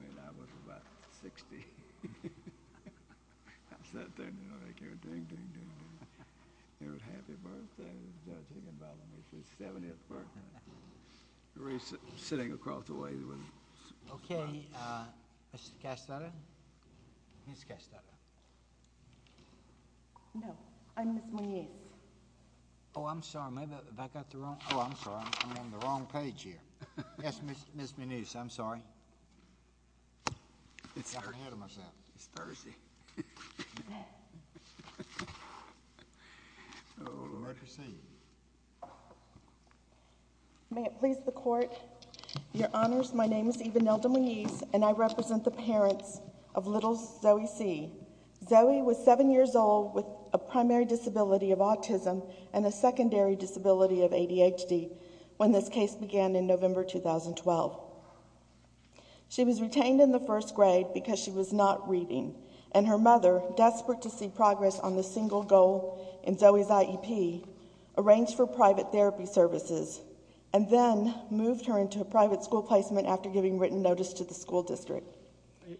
I was about 60. I sat there, ding, ding, ding, ding. It was a happy birthday. I was sitting across the way. Okay, Mr. Castata, Ms. Castata. No, I'm Ms. Moniz. Oh, I'm sorry. I'm on the Your Honors, my name is Eva Nelda Moniz, and I represent the parents of little Zoe C. Zoe was 7 years old with a primary disability of autism and a secondary disability of ADHD when this case began in November 2012. She was retained in the first grade because she was not reading, and her mother, desperate to see progress on the single goal in Zoe's IEP, arranged for private therapy services and then moved her into a private school placement after giving written notice to the school district.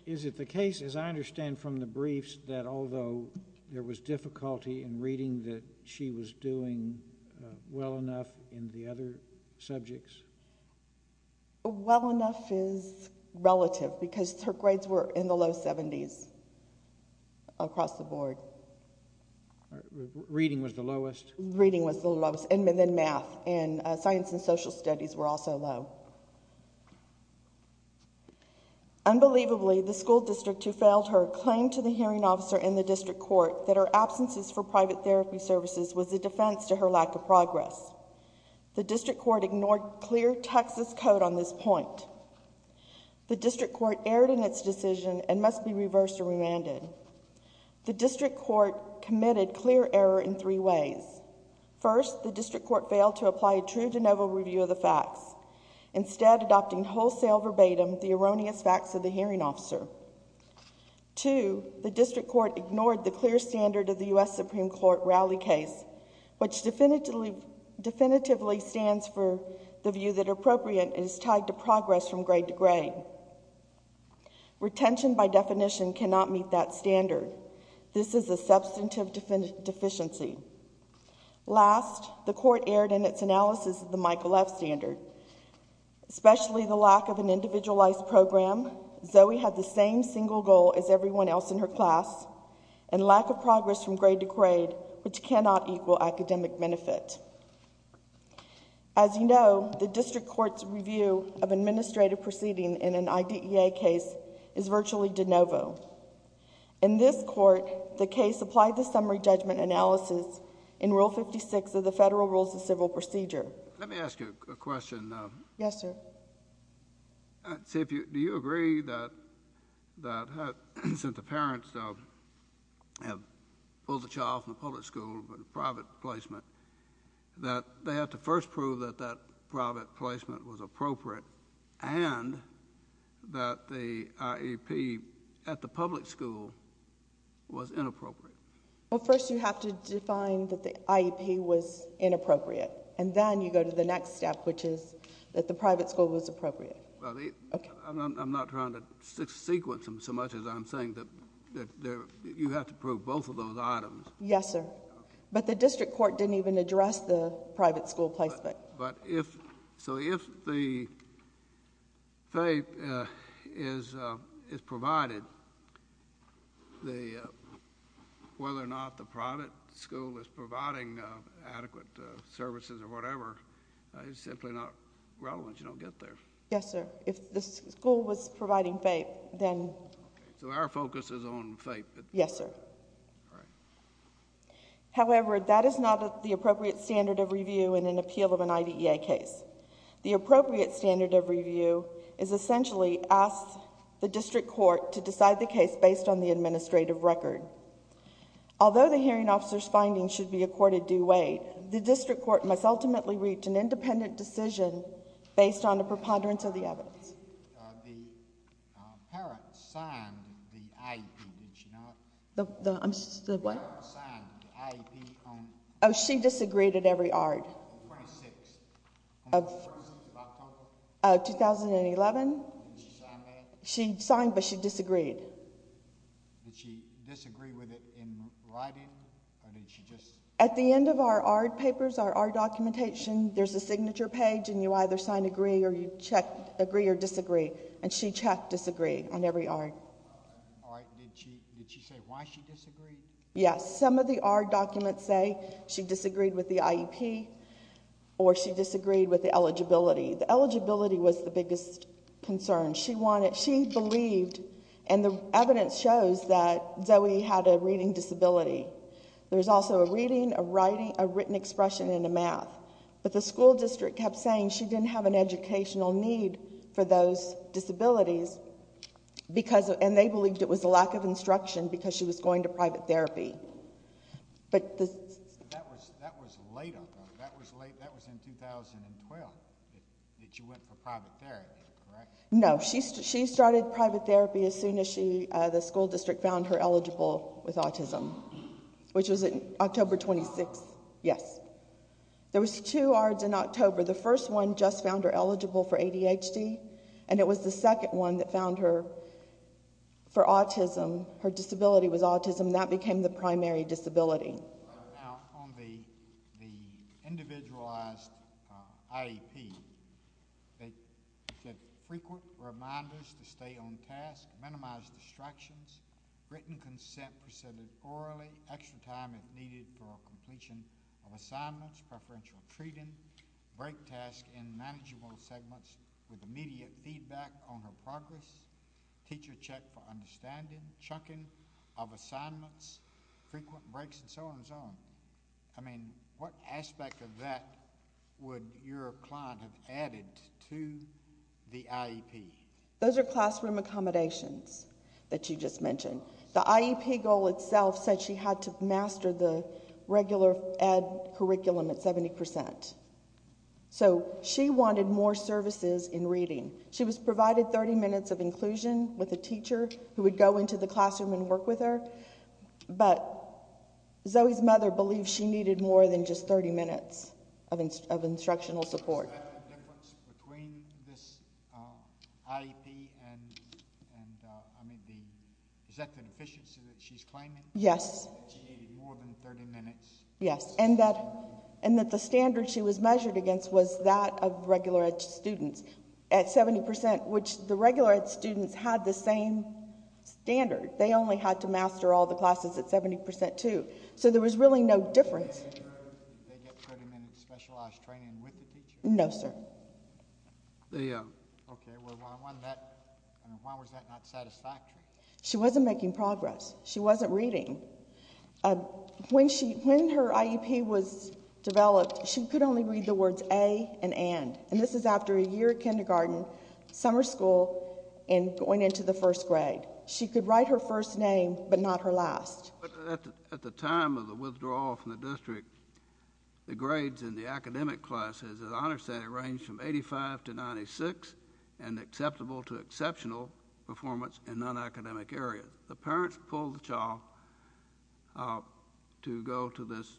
Is it the case, as I understand from the briefs, that although there was difficulty in reading that she was doing well enough in the other subjects? Well enough is relative because her grades were in the low 70s across the board. Reading was the lowest? Reading was the lowest, and then math, and science and social studies were also low. Unbelievably, the school district who failed her claimed to the hearing officer in the district court that her absences for private therapy services was a defense to her lack of progress. The district court ignored clear Texas code on this point. The district court erred in its decision and must be reversed or remanded. The district court committed clear error in three ways. First, the district court failed to apply a true de novo review of the facts, instead adopting wholesale verbatim the erroneous facts of the hearing officer. Two, the district court ignored the clear standard of the U.S. Supreme Court rally case, which definitively stands for the view that appropriate is tied to progress from grade to grade. Retention by definition cannot meet that standard. This is a substantive deficiency. Last, the court erred in its analysis of the Michael F. standard. Especially the lack of an individualized program, Zoe had the same single goal as everyone else in her class, and lack of progress from grade to grade, which cannot equal academic benefit. As you know, the district court's review of administrative proceeding in an IDEA case is virtually de novo. In this court, the case applied the summary judgment analysis in Rule 56 of the Federal Rules of Civil Procedure. Let me ask you a question. Yes, sir. Do you agree that since the parents have pulled the child from the public school with a private placement, that they have to first prove that that private placement was appropriate and that the IEP at the public school was inappropriate? Well, first you have to define that the IEP was inappropriate, and then you go to the next step, which is that the private school was appropriate. Well, I'm not trying to sequence them so much as I'm saying that you have to prove both of those items. Yes, sir. Okay. But the district court didn't even address the private school placement. So if the FAPE is provided, whether or not the private school is providing adequate services or whatever is simply not relevant. You don't get there. Yes, sir. If the school was providing FAPE, then... So our focus is on FAPE. Yes, sir. All right. However, that is not the appropriate standard of review in an appeal of an IDEA case. The appropriate standard of review is essentially ask the district court to decide the case based on the administrative record. Although the hearing officer's findings should be accorded due weight, the district court must ultimately reach an independent decision based on the preponderance of the evidence. The parent signed the IEP, did she not? The what? The parent signed the IEP on... Oh, she disagreed at every ARD... on the 26th. On the 26th of October. Oh, 2011. Did she sign that? She signed, but she disagreed. Did she disagree with it in writing or did she just... At the end of our ARD papers, our ARD documentation, there's a signature page and you either sign agree or you check agree or disagree. And she checked disagree on every ARD. All right. Did she say why she disagreed? Yes. Some of the ARD documents say she disagreed with the IEP or she disagreed with the eligibility. The eligibility was the biggest concern. She wanted... she believed and the evidence shows that Zoe had a reading disability. There's also a reading, a writing, a written expression and a math. But the school district kept saying she didn't have an educational need for those disabilities because... and they believed it was a lack of instruction because she was going to private therapy. But the... That was later. That was late. That was in 2012 that you went for private therapy, correct? No. She started private therapy as soon as she... the school district found her eligible with autism, which was October 26th. Yes. There was two ARDs in October. The first one just found her eligible for ADHD and it was the second one that found her for autism. Her disability was autism and that became the primary disability. Now, on the individualized IEP, they said frequent reminders to stay on task, minimize distractions, written consent presented orally, extra time if needed for completion of assignments, preferential treating, break tasks in manageable segments with immediate feedback on her progress, teacher check for understanding, chunking of assignments, frequent breaks and so on and so on. I mean, what aspect of that would your client have added to the IEP? Those are classroom accommodations that you just mentioned. The IEP goal itself said she had to master the regular ed curriculum at 70 percent. So, she wanted more services in reading. She was provided 30 minutes of inclusion with a teacher who would go into the classroom and work with her, but Zoe's mother believed she needed more than just 30 minutes of instructional support. Is that the difference between this IEP and... I mean, is that the deficiency that she's claiming? Yes. That she needed more than 30 minutes? Yes, and that the standard she was measured against was that of regular ed students. At 70 percent, which the regular ed students had the same standard. They only had to master all the classes at 70 percent, too. So, there was really no difference. They get 30 minutes of specialized training with the teacher? No, sir. Okay, well, why was that not satisfactory? She wasn't making progress. She wasn't reading. When her IEP was developed, she could only read the words A and and. And this is after a year of kindergarten, summer school, and going into the first grade. She could write her first name, but not her last. At the time of the withdrawal from the district, the grades in the academic classes, as I understand it, ranged from 85 to 96, and acceptable to exceptional performance in non-academic areas. The parents pulled the child to go to this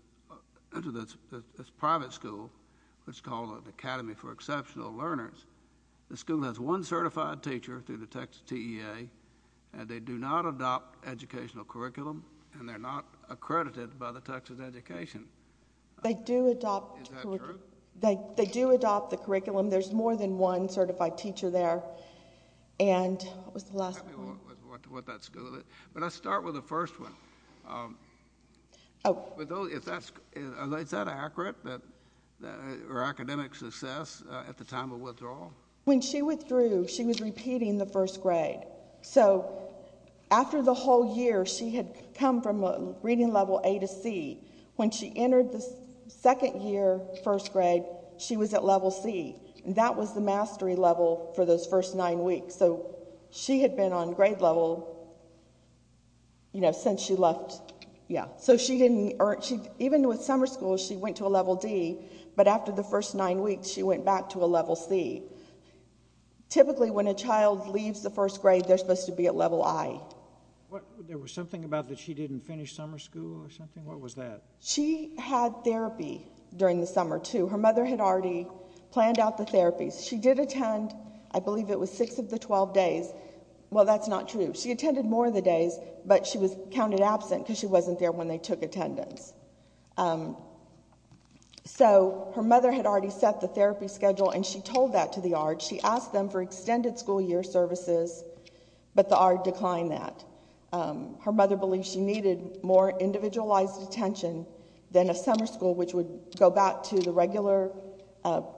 private school, which is called the Academy for Exceptional Learners. The school has one certified teacher through the Texas TEA, and they do not adopt educational curriculum, and they're not accredited by the Texas Education. Is that true? They do adopt the curriculum. There's more than one certified teacher there. What was the last one? Let's start with the first one. Is that accurate, her academic success at the time of withdrawal? When she withdrew, she was repeating the first grade. So after the whole year, she had come from reading level A to C. When she entered the second year, first grade, she was at level C. That was the mastery level for those first nine weeks. So she had been on grade level since she left. Even with summer school, she went to a level D, but after the first nine weeks, she went back to a level C. Typically, when a child leaves the first grade, they're supposed to be at level I. There was something about that she didn't finish summer school or something? What was that? She had therapy during the summer, too. Her mother had already planned out the therapies. She did attend, I believe it was six of the 12 days. Well, that's not true. She attended more of the days, but she was counted absent because she wasn't there when they took attendance. So her mother had already set the therapy schedule, and she told that to the ARD. She asked them for extended school year services, but the ARD declined that. Her mother believed she needed more individualized attention than a summer school, which would go back to the regular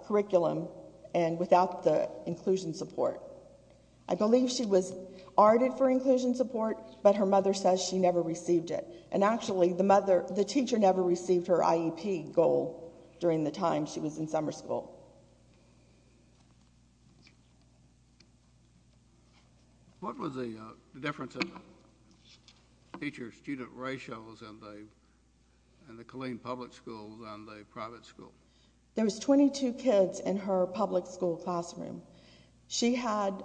curriculum and without the inclusion support. I believe she was ARDed for inclusion support, but her mother says she never received it. And actually, the teacher never received her IEP goal during the time she was in summer school. What was the difference in teacher-student ratios in the Killeen public schools and the private school? There was 22 kids in her public school classroom. She had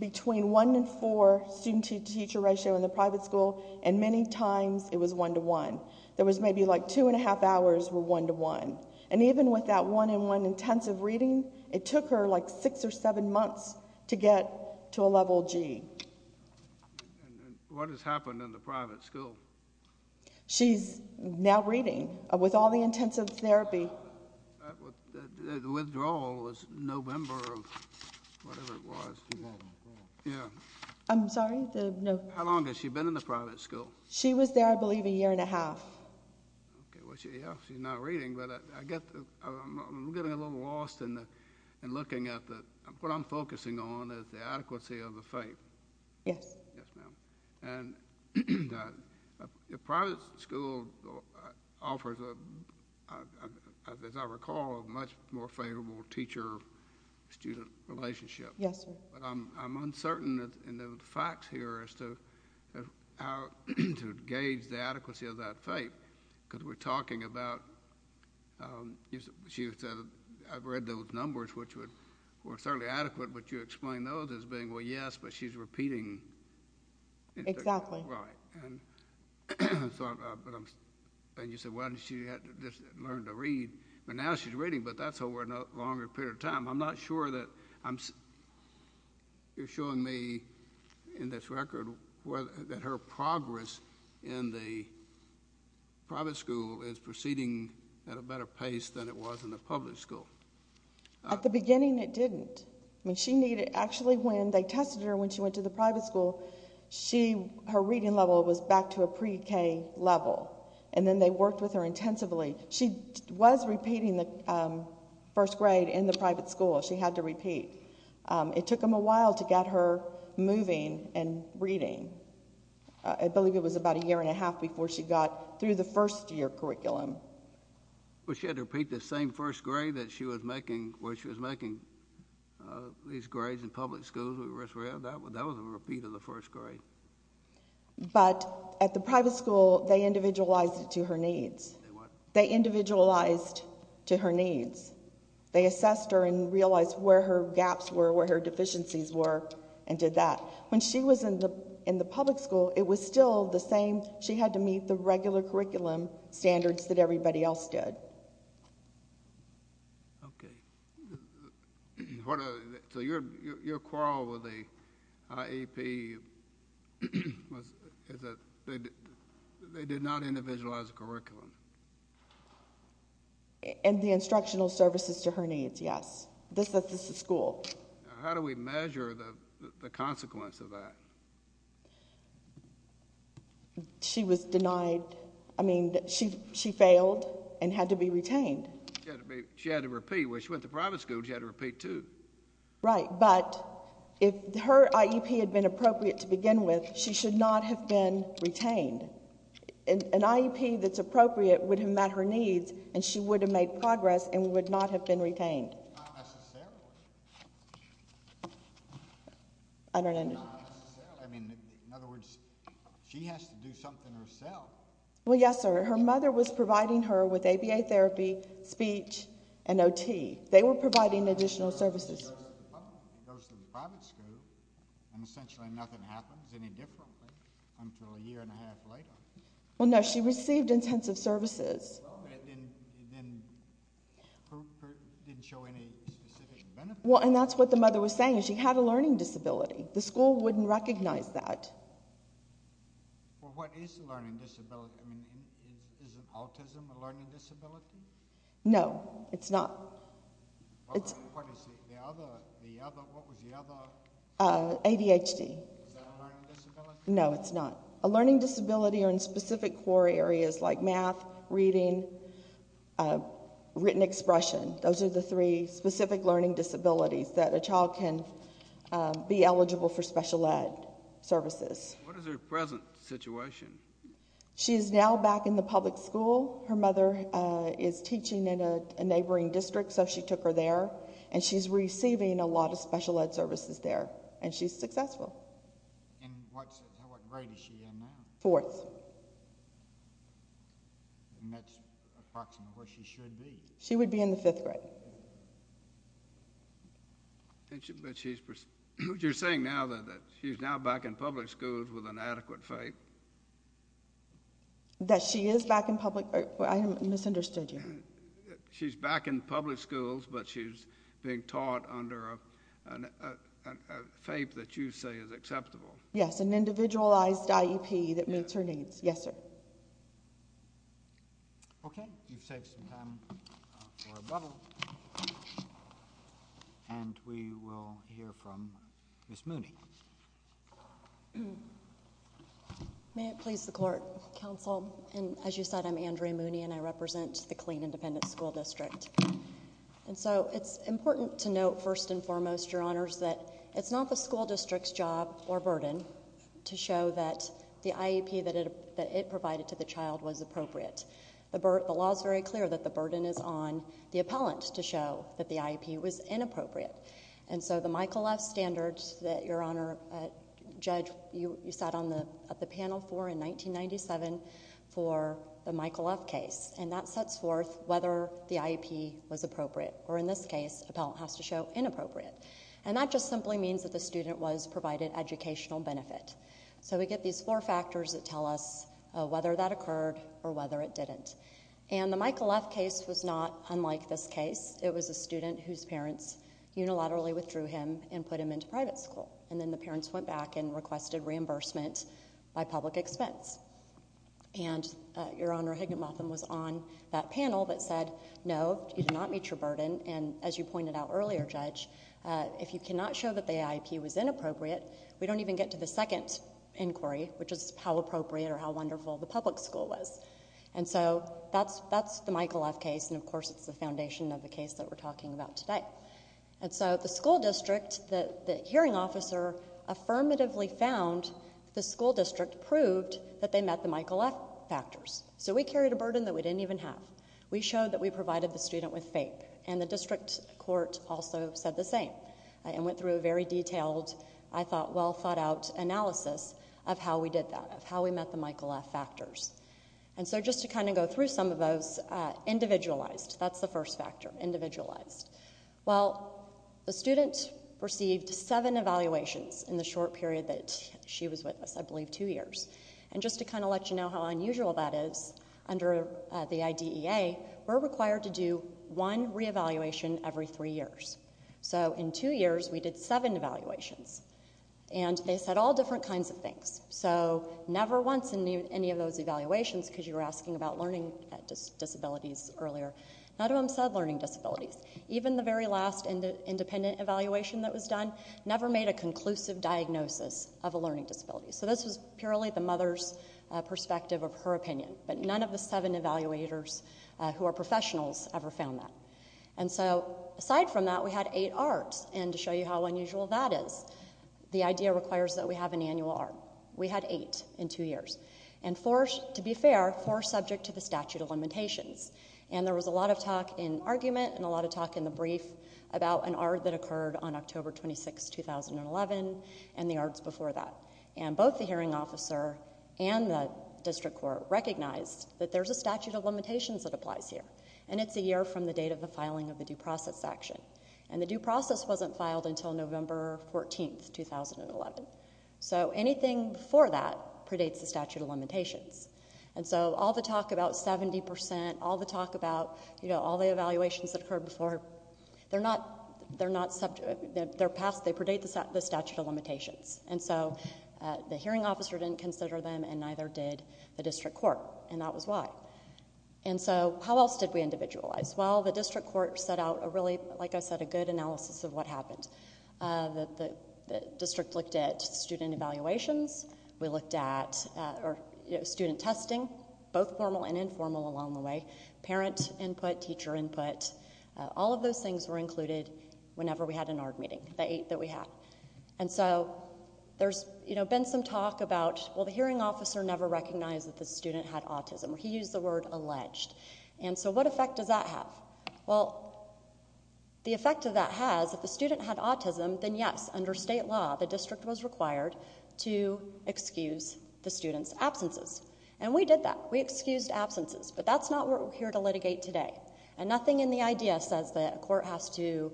between one and four student-teacher ratio in the private school, and many times it was one-to-one. There was maybe like two and a half hours were one-to-one. And even with that one-in-one intensive reading, it took her like six or seven months to get to a level G. What has happened in the private school? She's now reading with all the intensive therapy. The withdrawal was November of whatever it was. I'm sorry? How long has she been in the private school? She was there, I believe, a year and a half. Okay. Well, she's not reading, but I'm getting a little lost in looking at what I'm focusing on is the adequacy of the faith. Yes. Yes, ma'am. And the private school offers, as I recall, a much more favorable teacher-student relationship. Yes, sir. But I'm uncertain in the facts here as to how to gauge the adequacy of that faith, because we're talking about—I've read those numbers, which were certainly adequate, but you explain those as being, well, yes, but she's repeating. Exactly. Right. And you said, well, she had to just learn to read, but now she's reading, but that's over a longer period of time. I'm not sure that—you're showing me in this record that her progress in the private school is proceeding at a better pace than it was in the public school. At the beginning, it didn't. I mean, she needed—actually, when they tested her when she went to the private school, her reading level was back to a pre-K level, and then they worked with her intensively. She was repeating the first grade in the private school. She had to repeat. It took them a while to get her moving and reading. I believe it was about a year and a half before she got through the first-year curriculum. Well, she had to repeat the same first grade that she was making, where she was making these grades in public schools. That was a repeat of the first grade. But at the private school, they individualized it to her needs. They what? They individualized to her needs. They assessed her and realized where her gaps were, where her deficiencies were, and did that. When she was in the public school, it was still the same. She had to meet the regular curriculum standards that everybody else did. Okay. So your quarrel with the IEP was that they did not individualize the curriculum? And the instructional services to her needs, yes. This is the school. How do we measure the consequence of that? She was denied—I mean, she failed and had to be retained. She had to repeat. When she went to private school, she had to repeat, too. Right. But if her IEP had been appropriate to begin with, she should not have been retained. An IEP that's appropriate would have met her needs, and she would have made progress and would not have been retained. Not necessarily. I don't understand. Not necessarily. I mean, in other words, she has to do something herself. Well, yes, sir. Her mother was providing her with ABA therapy, speech, and OT. They were providing additional services. She goes to the private school, and essentially nothing happens any differently until a year and a half later. Well, no. She received intensive services. Well, but it didn't prove her—didn't show any specific benefits. Well, and that's what the mother was saying. She had a learning disability. The school wouldn't recognize that. Well, what is a learning disability? I mean, isn't autism a learning disability? No, it's not. What is the other—what was the other— ADHD. Is that a learning disability? No, it's not. A learning disability or in specific core areas like math, reading, written expression. Those are the three specific learning disabilities that a child can be eligible for special ed services. What is her present situation? She is now back in the public school. Her mother is teaching in a neighboring district, so she took her there. And she's receiving a lot of special ed services there, and she's successful. And what grade is she in now? Fourth. And that's approximately where she should be. She would be in the fifth grade. But she's—you're saying now that she's now back in public schools with an adequate FAPE? That she is back in public—I misunderstood you. She's back in public schools, but she's being taught under a FAPE that you say is acceptable. Yes, an individualized IEP that meets her needs. Yes, sir. Okay. You've saved some time for a bubble. And we will hear from Ms. Mooney. May it please the court, counsel. And as you said, I'm Andrea Mooney, and I represent the Clean Independent School District. And so it's important to note first and foremost, Your Honors, that it's not the school district's job or burden to show that the IEP that it provided to the child was appropriate. The law is very clear that the burden is on the appellant to show that the IEP was inappropriate. And so the Michael F. standards that, Your Honor, Judge, you sat on the panel for in 1997 for the Michael F. case, and that sets forth whether the IEP was appropriate, or in this case, appellant has to show inappropriate. And that just simply means that the student was provided educational benefit. So we get these four factors that tell us whether that occurred or whether it didn't. And the Michael F. case was not unlike this case. It was a student whose parents unilaterally withdrew him and put him into private school. And then the parents went back and requested reimbursement by public expense. And Your Honor, Higginbotham was on that panel that said, no, you did not meet your burden. And as you pointed out earlier, Judge, if you cannot show that the IEP was inappropriate, we don't even get to the second inquiry, which is how appropriate or how wonderful the public school was. And so that's the Michael F. case, and of course it's the foundation of the case that we're talking about today. And so the school district, the hearing officer affirmatively found the school district proved that they met the Michael F. factors. So we carried a burden that we didn't even have. We showed that we provided the student with FAPE, and the district court also said the same and went through a very detailed, I thought, well-thought-out analysis of how we did that, of how we met the Michael F. factors. And so just to kind of go through some of those, individualized, that's the first factor, individualized. Well, the student received seven evaluations in the short period that she was with us, I believe two years. And just to kind of let you know how unusual that is, under the IDEA, we're required to do one reevaluation every three years. So in two years, we did seven evaluations, and they said all different kinds of things. So never once in any of those evaluations, because you were asking about learning disabilities earlier, none of them said learning disabilities. Even the very last independent evaluation that was done never made a conclusive diagnosis of a learning disability. So this was purely the mother's perspective of her opinion, but none of the seven evaluators who are professionals ever found that. And so aside from that, we had eight ARDs, and to show you how unusual that is, the IDEA requires that we have an annual ARD. We had eight in two years, and four, to be fair, four subject to the statute of limitations. And there was a lot of talk in argument and a lot of talk in the brief about an ARD that occurred on October 26, 2011, and the ARDs before that. And both the hearing officer and the district court recognized that there's a statute of limitations that applies here, and it's a year from the date of the filing of the due process action. And the due process wasn't filed until November 14, 2011. So anything before that predates the statute of limitations. And so all the talk about 70 percent, all the talk about, you know, all the evaluations that occurred before, they're not subject, they're past, they predate the statute of limitations. And so the hearing officer didn't consider them, and neither did the district court, and that was why. And so how else did we individualize? Well, the district court set out a really, like I said, a good analysis of what happened. The district looked at student evaluations, we looked at student testing, both formal and informal along the way, parent input, teacher input, all of those things were included whenever we had an ARD meeting, the eight that we had. And so there's, you know, been some talk about, well, the hearing officer never recognized that the student had autism. He used the word alleged. And so what effect does that have? Well, the effect of that has, if the student had autism, then yes, under state law, the district was required to excuse the student's absences. And we did that. We excused absences. But that's not what we're here to litigate today. And nothing in the idea says that a court has to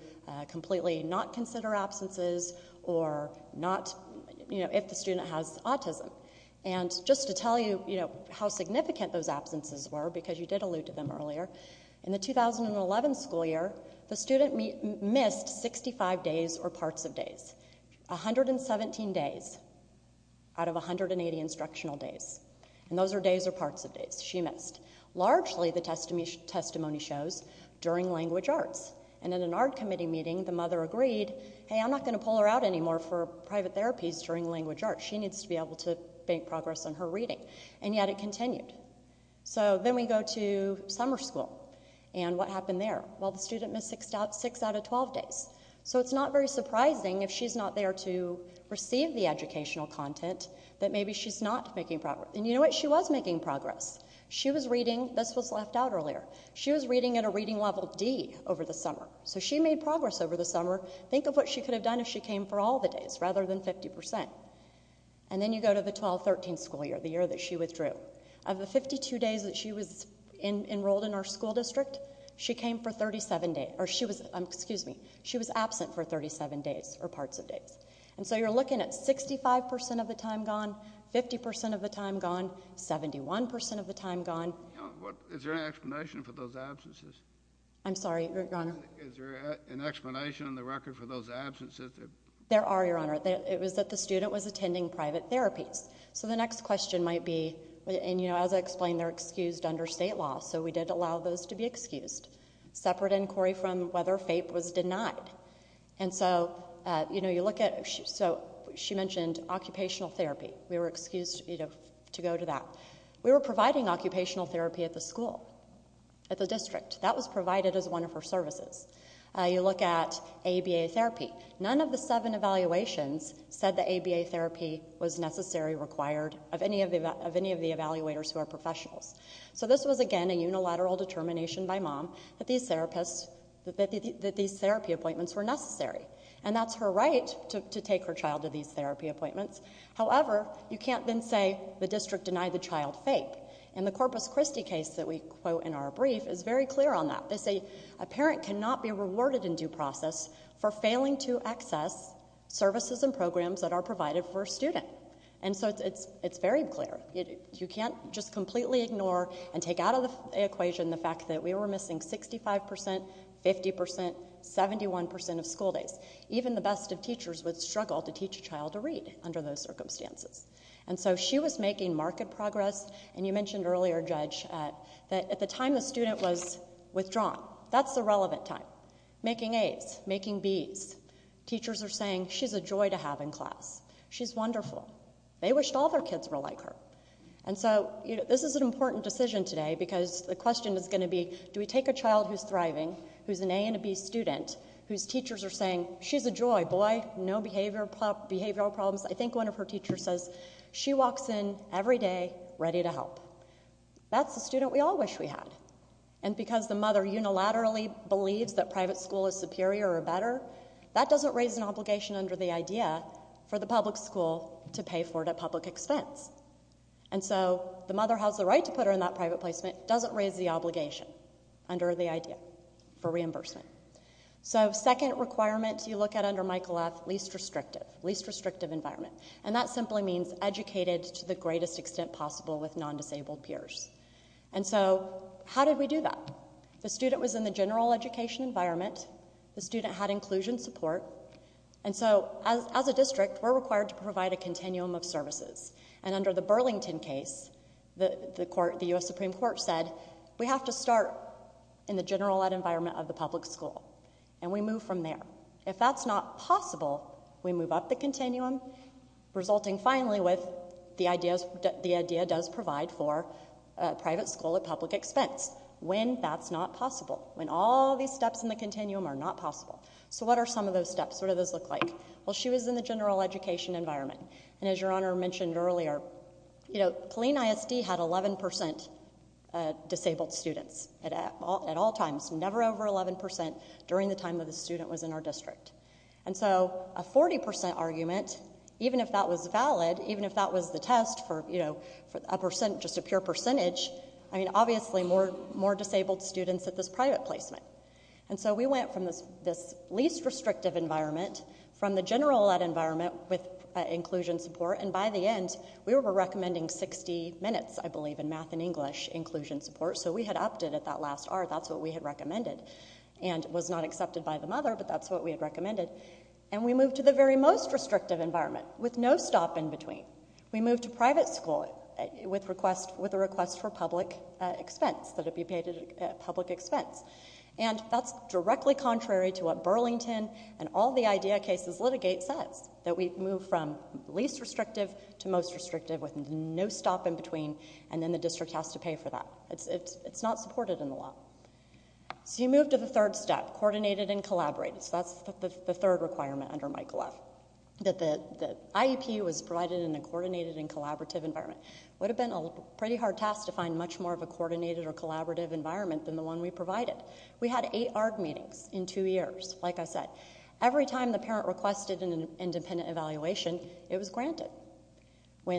completely not consider absences or not, you know, if the student has autism. And just to tell you, you know, how significant those absences were, because you did allude to them earlier, in the 2011 school year, the student missed 65 days or parts of days, 117 days out of 180 instructional days. And those are days or parts of days she missed. Largely, the testimony shows during language arts. And in an ARD committee meeting, the mother agreed, hey, I'm not going to pull her out anymore for private therapies during language arts. She needs to be able to make progress on her reading. And yet it continued. So then we go to summer school. And what happened there? Well, the student missed six out of 12 days. So it's not very surprising if she's not there to receive the educational content that maybe she's not making progress. And you know what? She was making progress. She was reading. This was left out earlier. She was reading at a reading level D over the summer. So she made progress over the summer. Think of what she could have done if she came for all the days rather than 50%. And then you go to the 12-13 school year, the year that she withdrew. Of the 52 days that she was enrolled in our school district, she came for 37 days. Or she was, excuse me, she was absent for 37 days or parts of days. And so you're looking at 65% of the time gone, 50% of the time gone, 71% of the time gone. Is there an explanation for those absences? I'm sorry, Your Honor. Is there an explanation on the record for those absences? There are, Your Honor. It was that the student was attending private therapies. So the next question might be, and, you know, as I explained, they're excused under state law. So we did allow those to be excused. Separate inquiry from whether FAPE was denied. And so, you know, you look at, so she mentioned occupational therapy. We were excused, you know, to go to that. We were providing occupational therapy at the school, at the district. That was provided as one of her services. You look at ABA therapy. None of the seven evaluations said that ABA therapy was necessary, required of any of the evaluators who are professionals. So this was, again, a unilateral determination by mom that these therapy appointments were necessary. And that's her right to take her child to these therapy appointments. However, you can't then say the district denied the child FAPE. And the Corpus Christi case that we quote in our brief is very clear on that. They say a parent cannot be rewarded in due process for failing to access services and programs that are provided for a student. And so it's very clear. You can't just completely ignore and take out of the equation the fact that we were missing 65%, 50%, 71% of school days. Even the best of teachers would struggle to teach a child to read under those circumstances. And so she was making marked progress. And you mentioned earlier, Judge, that at the time the student was withdrawn, that's the relevant time. Making A's, making B's. Teachers are saying, she's a joy to have in class. She's wonderful. They wished all their kids were like her. And so this is an important decision today because the question is going to be, do we take a child who's thriving, who's an A and a B student, whose teachers are saying, she's a joy, boy, no behavioral problems. I think one of her teachers says, she walks in every day ready to help. That's the student we all wish we had. And because the mother unilaterally believes that private school is superior or better, that doesn't raise an obligation under the idea for the public school to pay for it at public expense. And so the mother has the right to put her in that private placement. It doesn't raise the obligation under the idea for reimbursement. So second requirement you look at under Michael F, least restrictive, least restrictive environment. And that simply means educated to the greatest extent possible with non-disabled peers. And so how did we do that? The student was in the general education environment. The student had inclusion support. And so as a district, we're required to provide a continuum of services. And under the Burlington case, the U.S. Supreme Court said, we have to start in the general ed environment of the public school. And we move from there. If that's not possible, we move up the continuum, resulting finally with the idea does provide for private school at public expense. When that's not possible. When all these steps in the continuum are not possible. So what are some of those steps? What do those look like? Well, she was in the general education environment. And as Your Honor mentioned earlier, you know, Colleen ISD had 11% disabled students at all times. Never over 11% during the time that the student was in our district. And so a 40% argument, even if that was valid, even if that was the test for, you know, a percent, just a pure percentage, I mean, obviously more disabled students at this private placement. And so we went from this least restrictive environment, from the general ed environment with inclusion support, and by the end we were recommending 60 minutes, I believe, in math and English inclusion support. So we had upped it at that last hour. That's what we had recommended. And it was not accepted by the mother, but that's what we had recommended. And we moved to the very most restrictive environment with no stop in between. We moved to private school with a request for public expense, that it be paid at public expense. And that's directly contrary to what Burlington and all the IDEA cases litigate says, that we've moved from least restrictive to most restrictive with no stop in between, and then the district has to pay for that. It's not supported in the law. So you move to the third step, coordinated and collaborative. So that's the third requirement under Michael F., that the IEP was provided in a coordinated and collaborative environment. Would have been a pretty hard task to find much more of a coordinated or collaborative environment than the one we provided. We had eight ARD meetings in two years, like I said. Every time the parent requested an independent evaluation, it was granted. We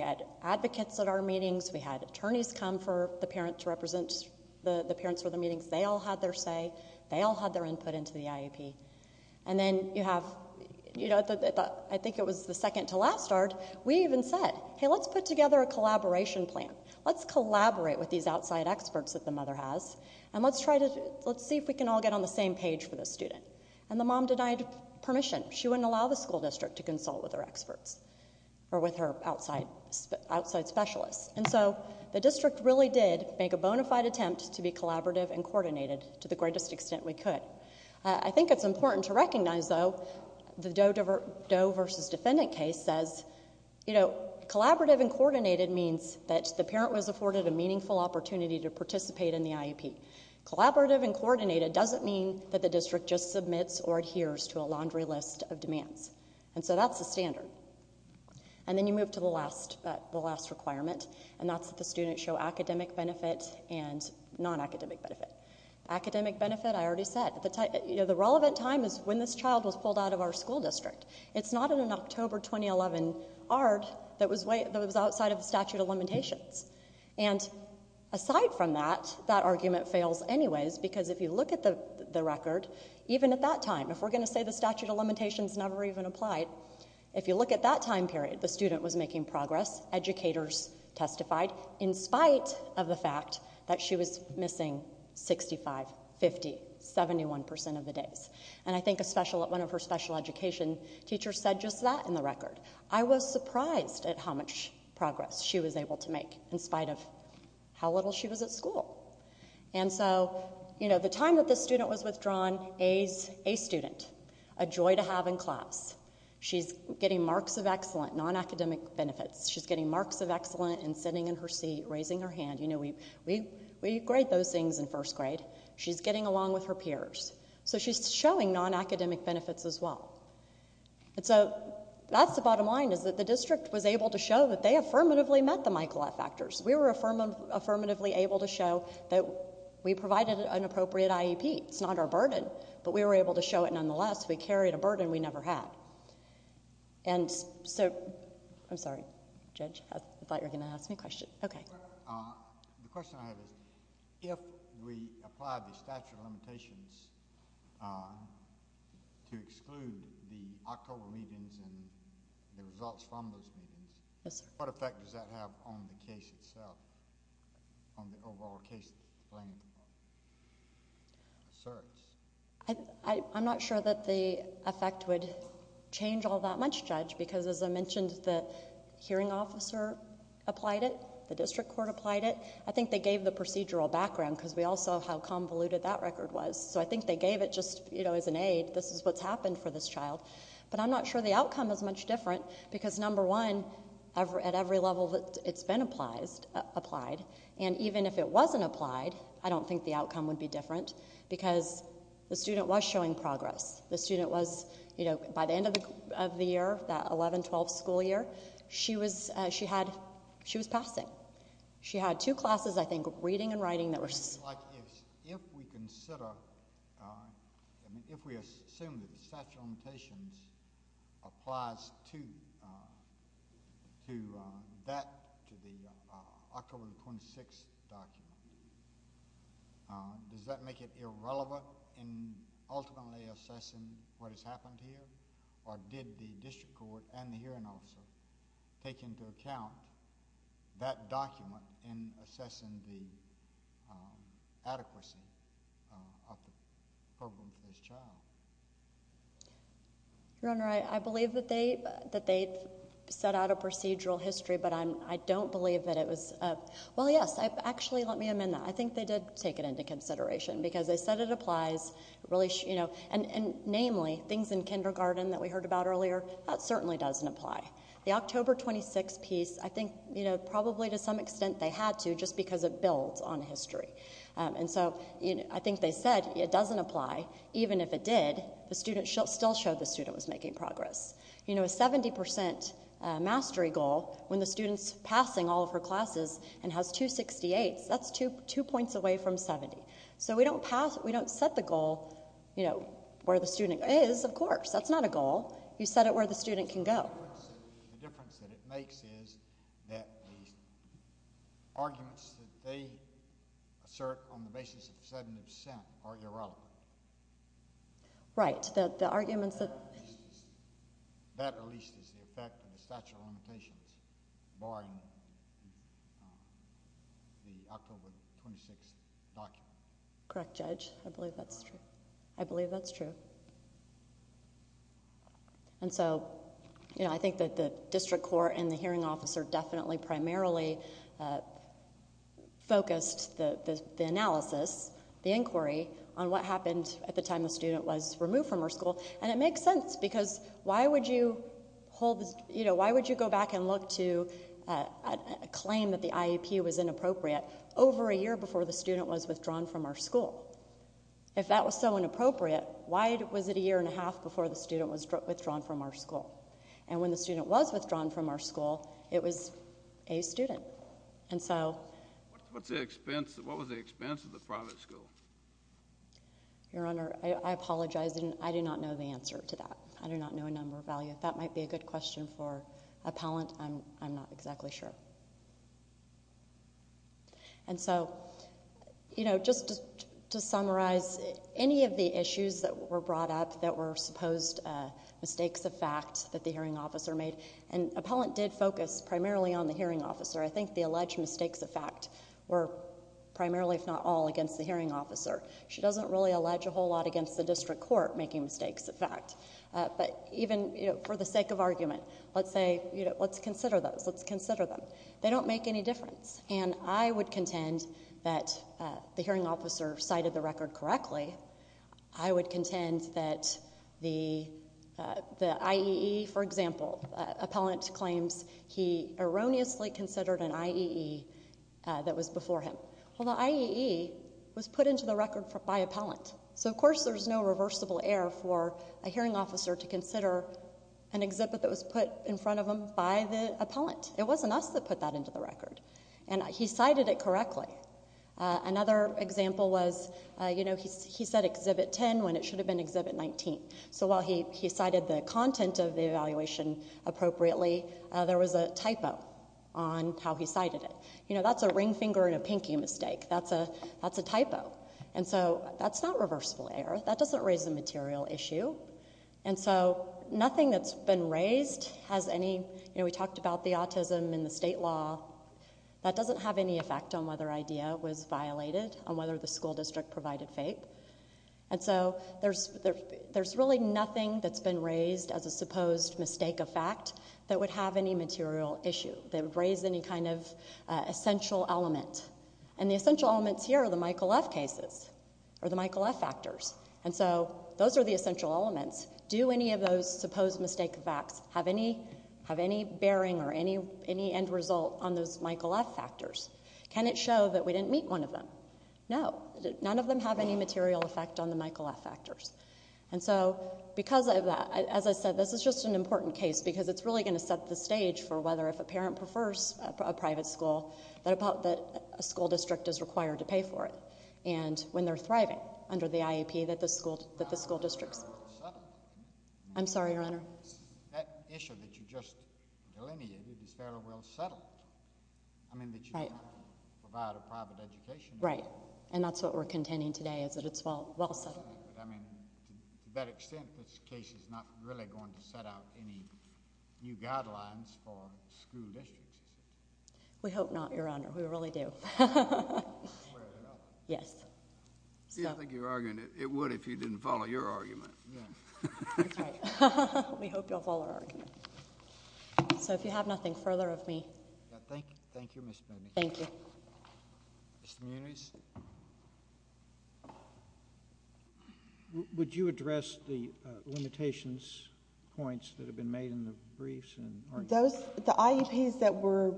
had advocates at our meetings, we had attorneys come for the parents to represent the parents for the meetings. They all had their say. They all had their input into the IEP. And then you have, I think it was the second to last ARD, we even said, hey, let's put together a collaboration plan. Let's collaborate with these outside experts that the mother has, and let's see if we can all get on the same page for the student. And the mom denied permission. She wouldn't allow the school district to consult with her experts or with her outside specialists. And so the district really did make a bona fide attempt to be collaborative and coordinated to the greatest extent we could. I think it's important to recognize, though, the Doe v. Defendant case says, collaborative and coordinated means that the parent was afforded a meaningful opportunity to participate in the IEP. Collaborative and coordinated doesn't mean that the district just submits or adheres to a laundry list of demands. And so that's the standard. And then you move to the last requirement, and that's that the student show academic benefit and non-academic benefit. Academic benefit, I already said. The relevant time is when this child was pulled out of our school district. It's not in an October 2011 ARD that was outside of the statute of limitations. And aside from that, that argument fails anyways, because if you look at the record, even at that time, if we're going to say the statute of limitations never even applied, if you look at that time period, the student was making progress. Educators testified in spite of the fact that she was missing 65, 50, 71% of the days. And I think one of her special education teachers said just that in the record. I was surprised at how much progress she was able to make in spite of how little she was at school. And so the time that this student was withdrawn, a student, a joy to have in class. She's getting marks of excellent, non-academic benefits. She's getting marks of excellent and sitting in her seat, raising her hand. We grade those things in first grade. She's getting along with her peers. So she's showing non-academic benefits as well. And so that's the bottom line, is that the district was able to show that they affirmatively met the Michael F. Actors. We were affirmatively able to show that we provided an appropriate IEP. It's not our burden, but we were able to show it nonetheless. We carried a burden we never had. And so... I'm sorry, Judge. I thought you were going to ask me a question. Okay. The question I have is, if we apply the statute of limitations to exclude the October meetings and the results from those meetings, what effect does that have on the case itself, on the overall case length? Sirs. I'm not sure that the effect would change all that much, Judge, because as I mentioned, the hearing officer applied it, the district court applied it. I think they gave the procedural background, because we all saw how convoluted that record was. So I think they gave it just as an aid, this is what's happened for this child. But I'm not sure the outcome is much different, because, number one, at every level it's been applied. And even if it wasn't applied, I don't think the outcome would be different, because the student was showing progress. The student was, by the end of the year, that 11-12 school year, she was passing. She had two classes, I think, reading and writing. If we assume that the statute of limitations applies to that, to the October 26th document, does that make it irrelevant in ultimately assessing what has happened here? Or did the district court and the hearing officer take into account that document in assessing the adequacy of the program for this child? Your Honor, I believe that they set out a procedural history, but I don't believe that it was... Well, yes, actually let me amend that. I think they did take it into consideration, because they said it applies. Namely, things in kindergarten that we heard about earlier, that certainly doesn't apply. The October 26th piece, I think probably to some extent they had to, just because it builds on history. And so I think they said it doesn't apply. Even if it did, the student still showed the student was making progress. A 70% mastery goal, when the student's passing all of her classes and has two 68s, that's two points away from 70. So we don't set the goal where the student is, of course. That's not a goal. You set it where the student can go. The difference that it makes is that the arguments that they assert on the basis of 70% are irrelevant. Right. The arguments that... That, at least, is the effect of the statute of limitations barring the October 26th document. Correct, Judge. I believe that's true. I believe that's true. And so I think that the district court and the hearing officer definitely primarily focused the analysis, the inquiry, on what happened at the time the student was removed from her school. And it makes sense because why would you go back and look to a claim that the IEP was inappropriate over a year before the student was withdrawn from her school? If that was so inappropriate, why was it a year and a half before the student was withdrawn from her school? And when the student was withdrawn from her school, it was a student. And so... What was the expense of the private school? Your Honor, I apologize. I do not know the answer to that. I do not know a number of values. That might be a good question for appellant. I'm not exactly sure. And so just to summarize, any of the issues that were brought up that were supposed mistakes of fact that the hearing officer made, and appellant did focus primarily on the hearing officer. I think the alleged mistakes of fact were primarily, if not all, against the hearing officer. She doesn't really allege a whole lot against the district court making mistakes of fact. But even for the sake of argument, let's say, let's consider those. Let's consider them. They don't make any difference. And I would contend that the hearing officer cited the record correctly. I would contend that the IEE, for example, appellant claims he erroneously considered an IEE that was before him. Well, the IEE was put into the record by appellant. So, of course, there's no reversible error for a hearing officer to consider an exhibit that was put in front of him by the appellant. It wasn't us that put that into the record. And he cited it correctly. Another example was he said Exhibit 10 when it should have been Exhibit 19. So while he cited the content of the evaluation appropriately, there was a typo on how he cited it. You know, that's a ring finger and a pinky mistake. That's a typo. And so that's not reversible error. That doesn't raise a material issue. And so nothing that's been raised has any, you know, we talked about the autism in the state law. That doesn't have any effect on whether IDEA was violated, on whether the school district provided FAPE. And so there's really nothing that's been raised as a supposed mistake of fact that would have any material issue. That would raise any kind of essential element. And the essential elements here are the Michael F. cases, or the Michael F. factors. And so those are the essential elements. Do any of those supposed mistake facts have any bearing or any end result on those Michael F. factors? Can it show that we didn't meet one of them? No. None of them have any material effect on the Michael F. factors. And so because of that, as I said, this is just an important case because it's really going to set the stage for whether, if a parent prefers a private school, that a school district is required to pay for it. And when they're thriving under the IEP that the school district's... That issue that you just delineated is fairly well settled. I mean, that you provide a private education... Right. And that's what we're contending today is that it's well settled. I mean, to that extent, this case is not really going to set out any new guidelines for school districts. We hope not, Your Honor. We really do. Yes. I think you're arguing it would if you didn't follow your argument. That's right. We hope you'll follow our argument. So if you have nothing further of me... Thank you, Ms. Mooney. Thank you. Mr. Muniz. Would you address the limitations points that have been made in the briefs? The IEPs that were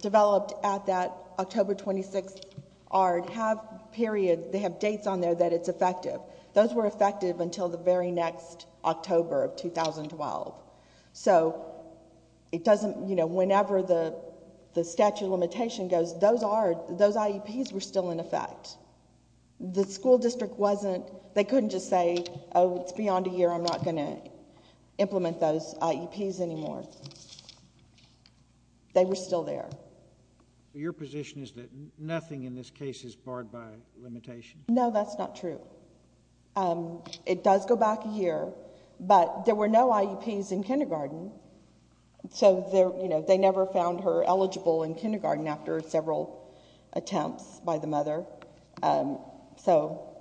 developed at that October 26th ARD have periods... They have dates on there that it's effective. Those were effective until the very next October of 2012. So it doesn't... You know, whenever the statute of limitation goes, those IEPs were still in effect. The school district wasn't... They couldn't just say, oh, it's beyond a year. I'm not going to implement those IEPs anymore. They were still there. Your position is that nothing in this case is barred by limitation? No, that's not true. It does go back a year, but there were no IEPs in kindergarten. So, you know, they never found her eligible in kindergarten after several attempts by the mother. So,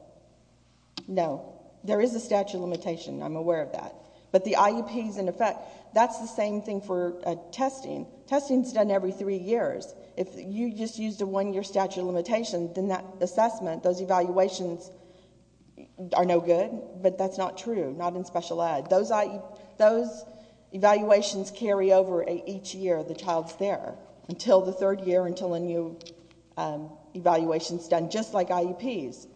no, there is a statute of limitation. I'm aware of that. But the IEPs in effect, that's the same thing for testing. Testing is done every three years. If you just used a one-year statute of limitation, then that assessment, those evaluations are no good. But that's not true, not in special ed. Those evaluations carry over each year. The child's there until the third year, until a new evaluation is done, just like IEPs.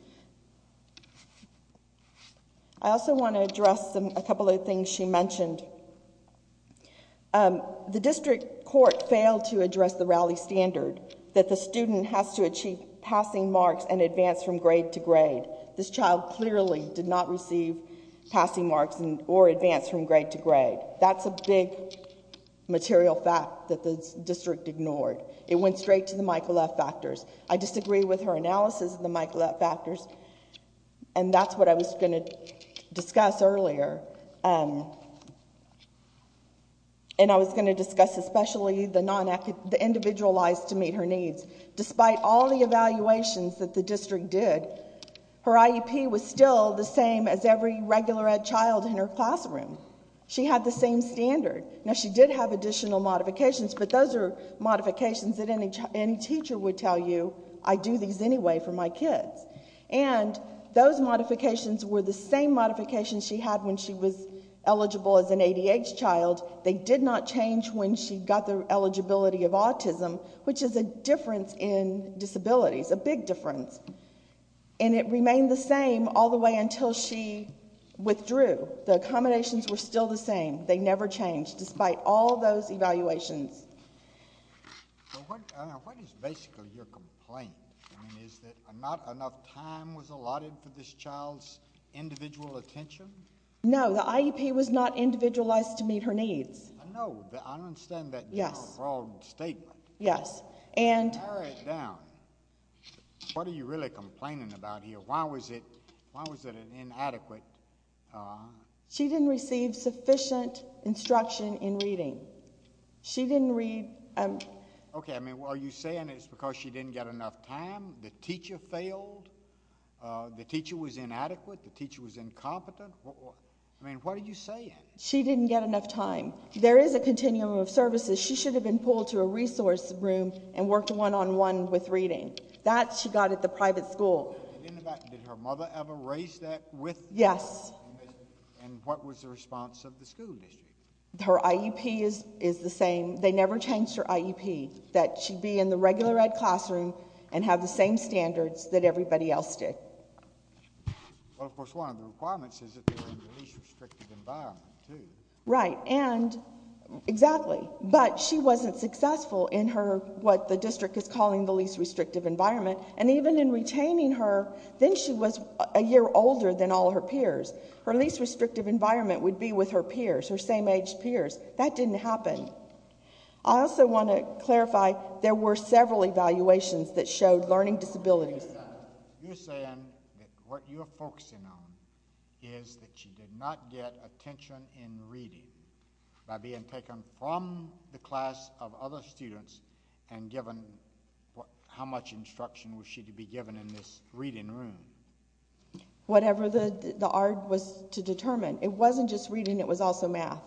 I also want to address a couple of things she mentioned. The district court failed to address the rally standard that the student has to achieve passing marks and advance from grade to grade. This child clearly did not receive passing marks or advance from grade to grade. That's a big material fact that the district ignored. It went straight to the Michael F. Factors. I disagree with her analysis of the Michael F. Factors, and that's what I was going to discuss earlier, and I was going to discuss especially the individualized to meet her needs. Despite all the evaluations that the district did, her IEP was still the same as every regular ed child in her classroom. She had the same standard. Now, she did have additional modifications, but those are modifications that any teacher would tell you, I do these anyway for my kids. And those modifications were the same modifications she had when she was eligible as an ADH child. They did not change when she got the eligibility of autism, which is a difference in disabilities, a big difference. And it remained the same all the way until she withdrew. The accommodations were still the same. They never changed despite all those evaluations. So what is basically your complaint? I mean, is it not enough time was allotted for this child's individual attention? No, the IEP was not individualized to meet her needs. I know, but I don't understand that general broad statement. Yes. Tear it down. What are you really complaining about here? Why was it inadequate? She didn't receive sufficient instruction in reading. She didn't read. Okay, are you saying it's because she didn't get enough time? The teacher failed? The teacher was inadequate? The teacher was incompetent? She didn't get enough time. There is a continuum of services. She should have been pulled to a resource room and worked one-on-one with reading. That she got at the private school. Did her mother ever raise that with her? Yes. And what was the response of the school district? Her IEP is the same. They never changed her IEP, that she be in the regular ed classroom and have the same standards that everybody else did. Well, of course, one of the requirements is if you're in the least restricted environment, too. Right, and exactly. But she wasn't successful in her, what the district is calling the least restrictive environment. And even in retaining her, then she was a year older than all her peers. Her least restrictive environment would be with her peers, her same-aged peers. That didn't happen. I also want to clarify, there were several evaluations that showed learning disabilities. You're saying that what you're focusing on is that she did not get attention in reading by being taken from the class of other students and given how much instruction was she to be given in this reading room? Whatever the art was to determine. It wasn't just reading, it was also math.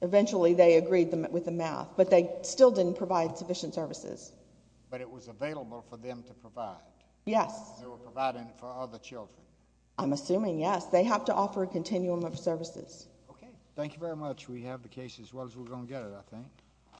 Eventually they agreed with the math, but they still didn't provide sufficient services. But it was available for them to provide. Yes. They were providing it for other children. I'm assuming, yes. They have to offer a continuum of services. Okay. Thank you very much. We have the case as well as we're going to get it, I think.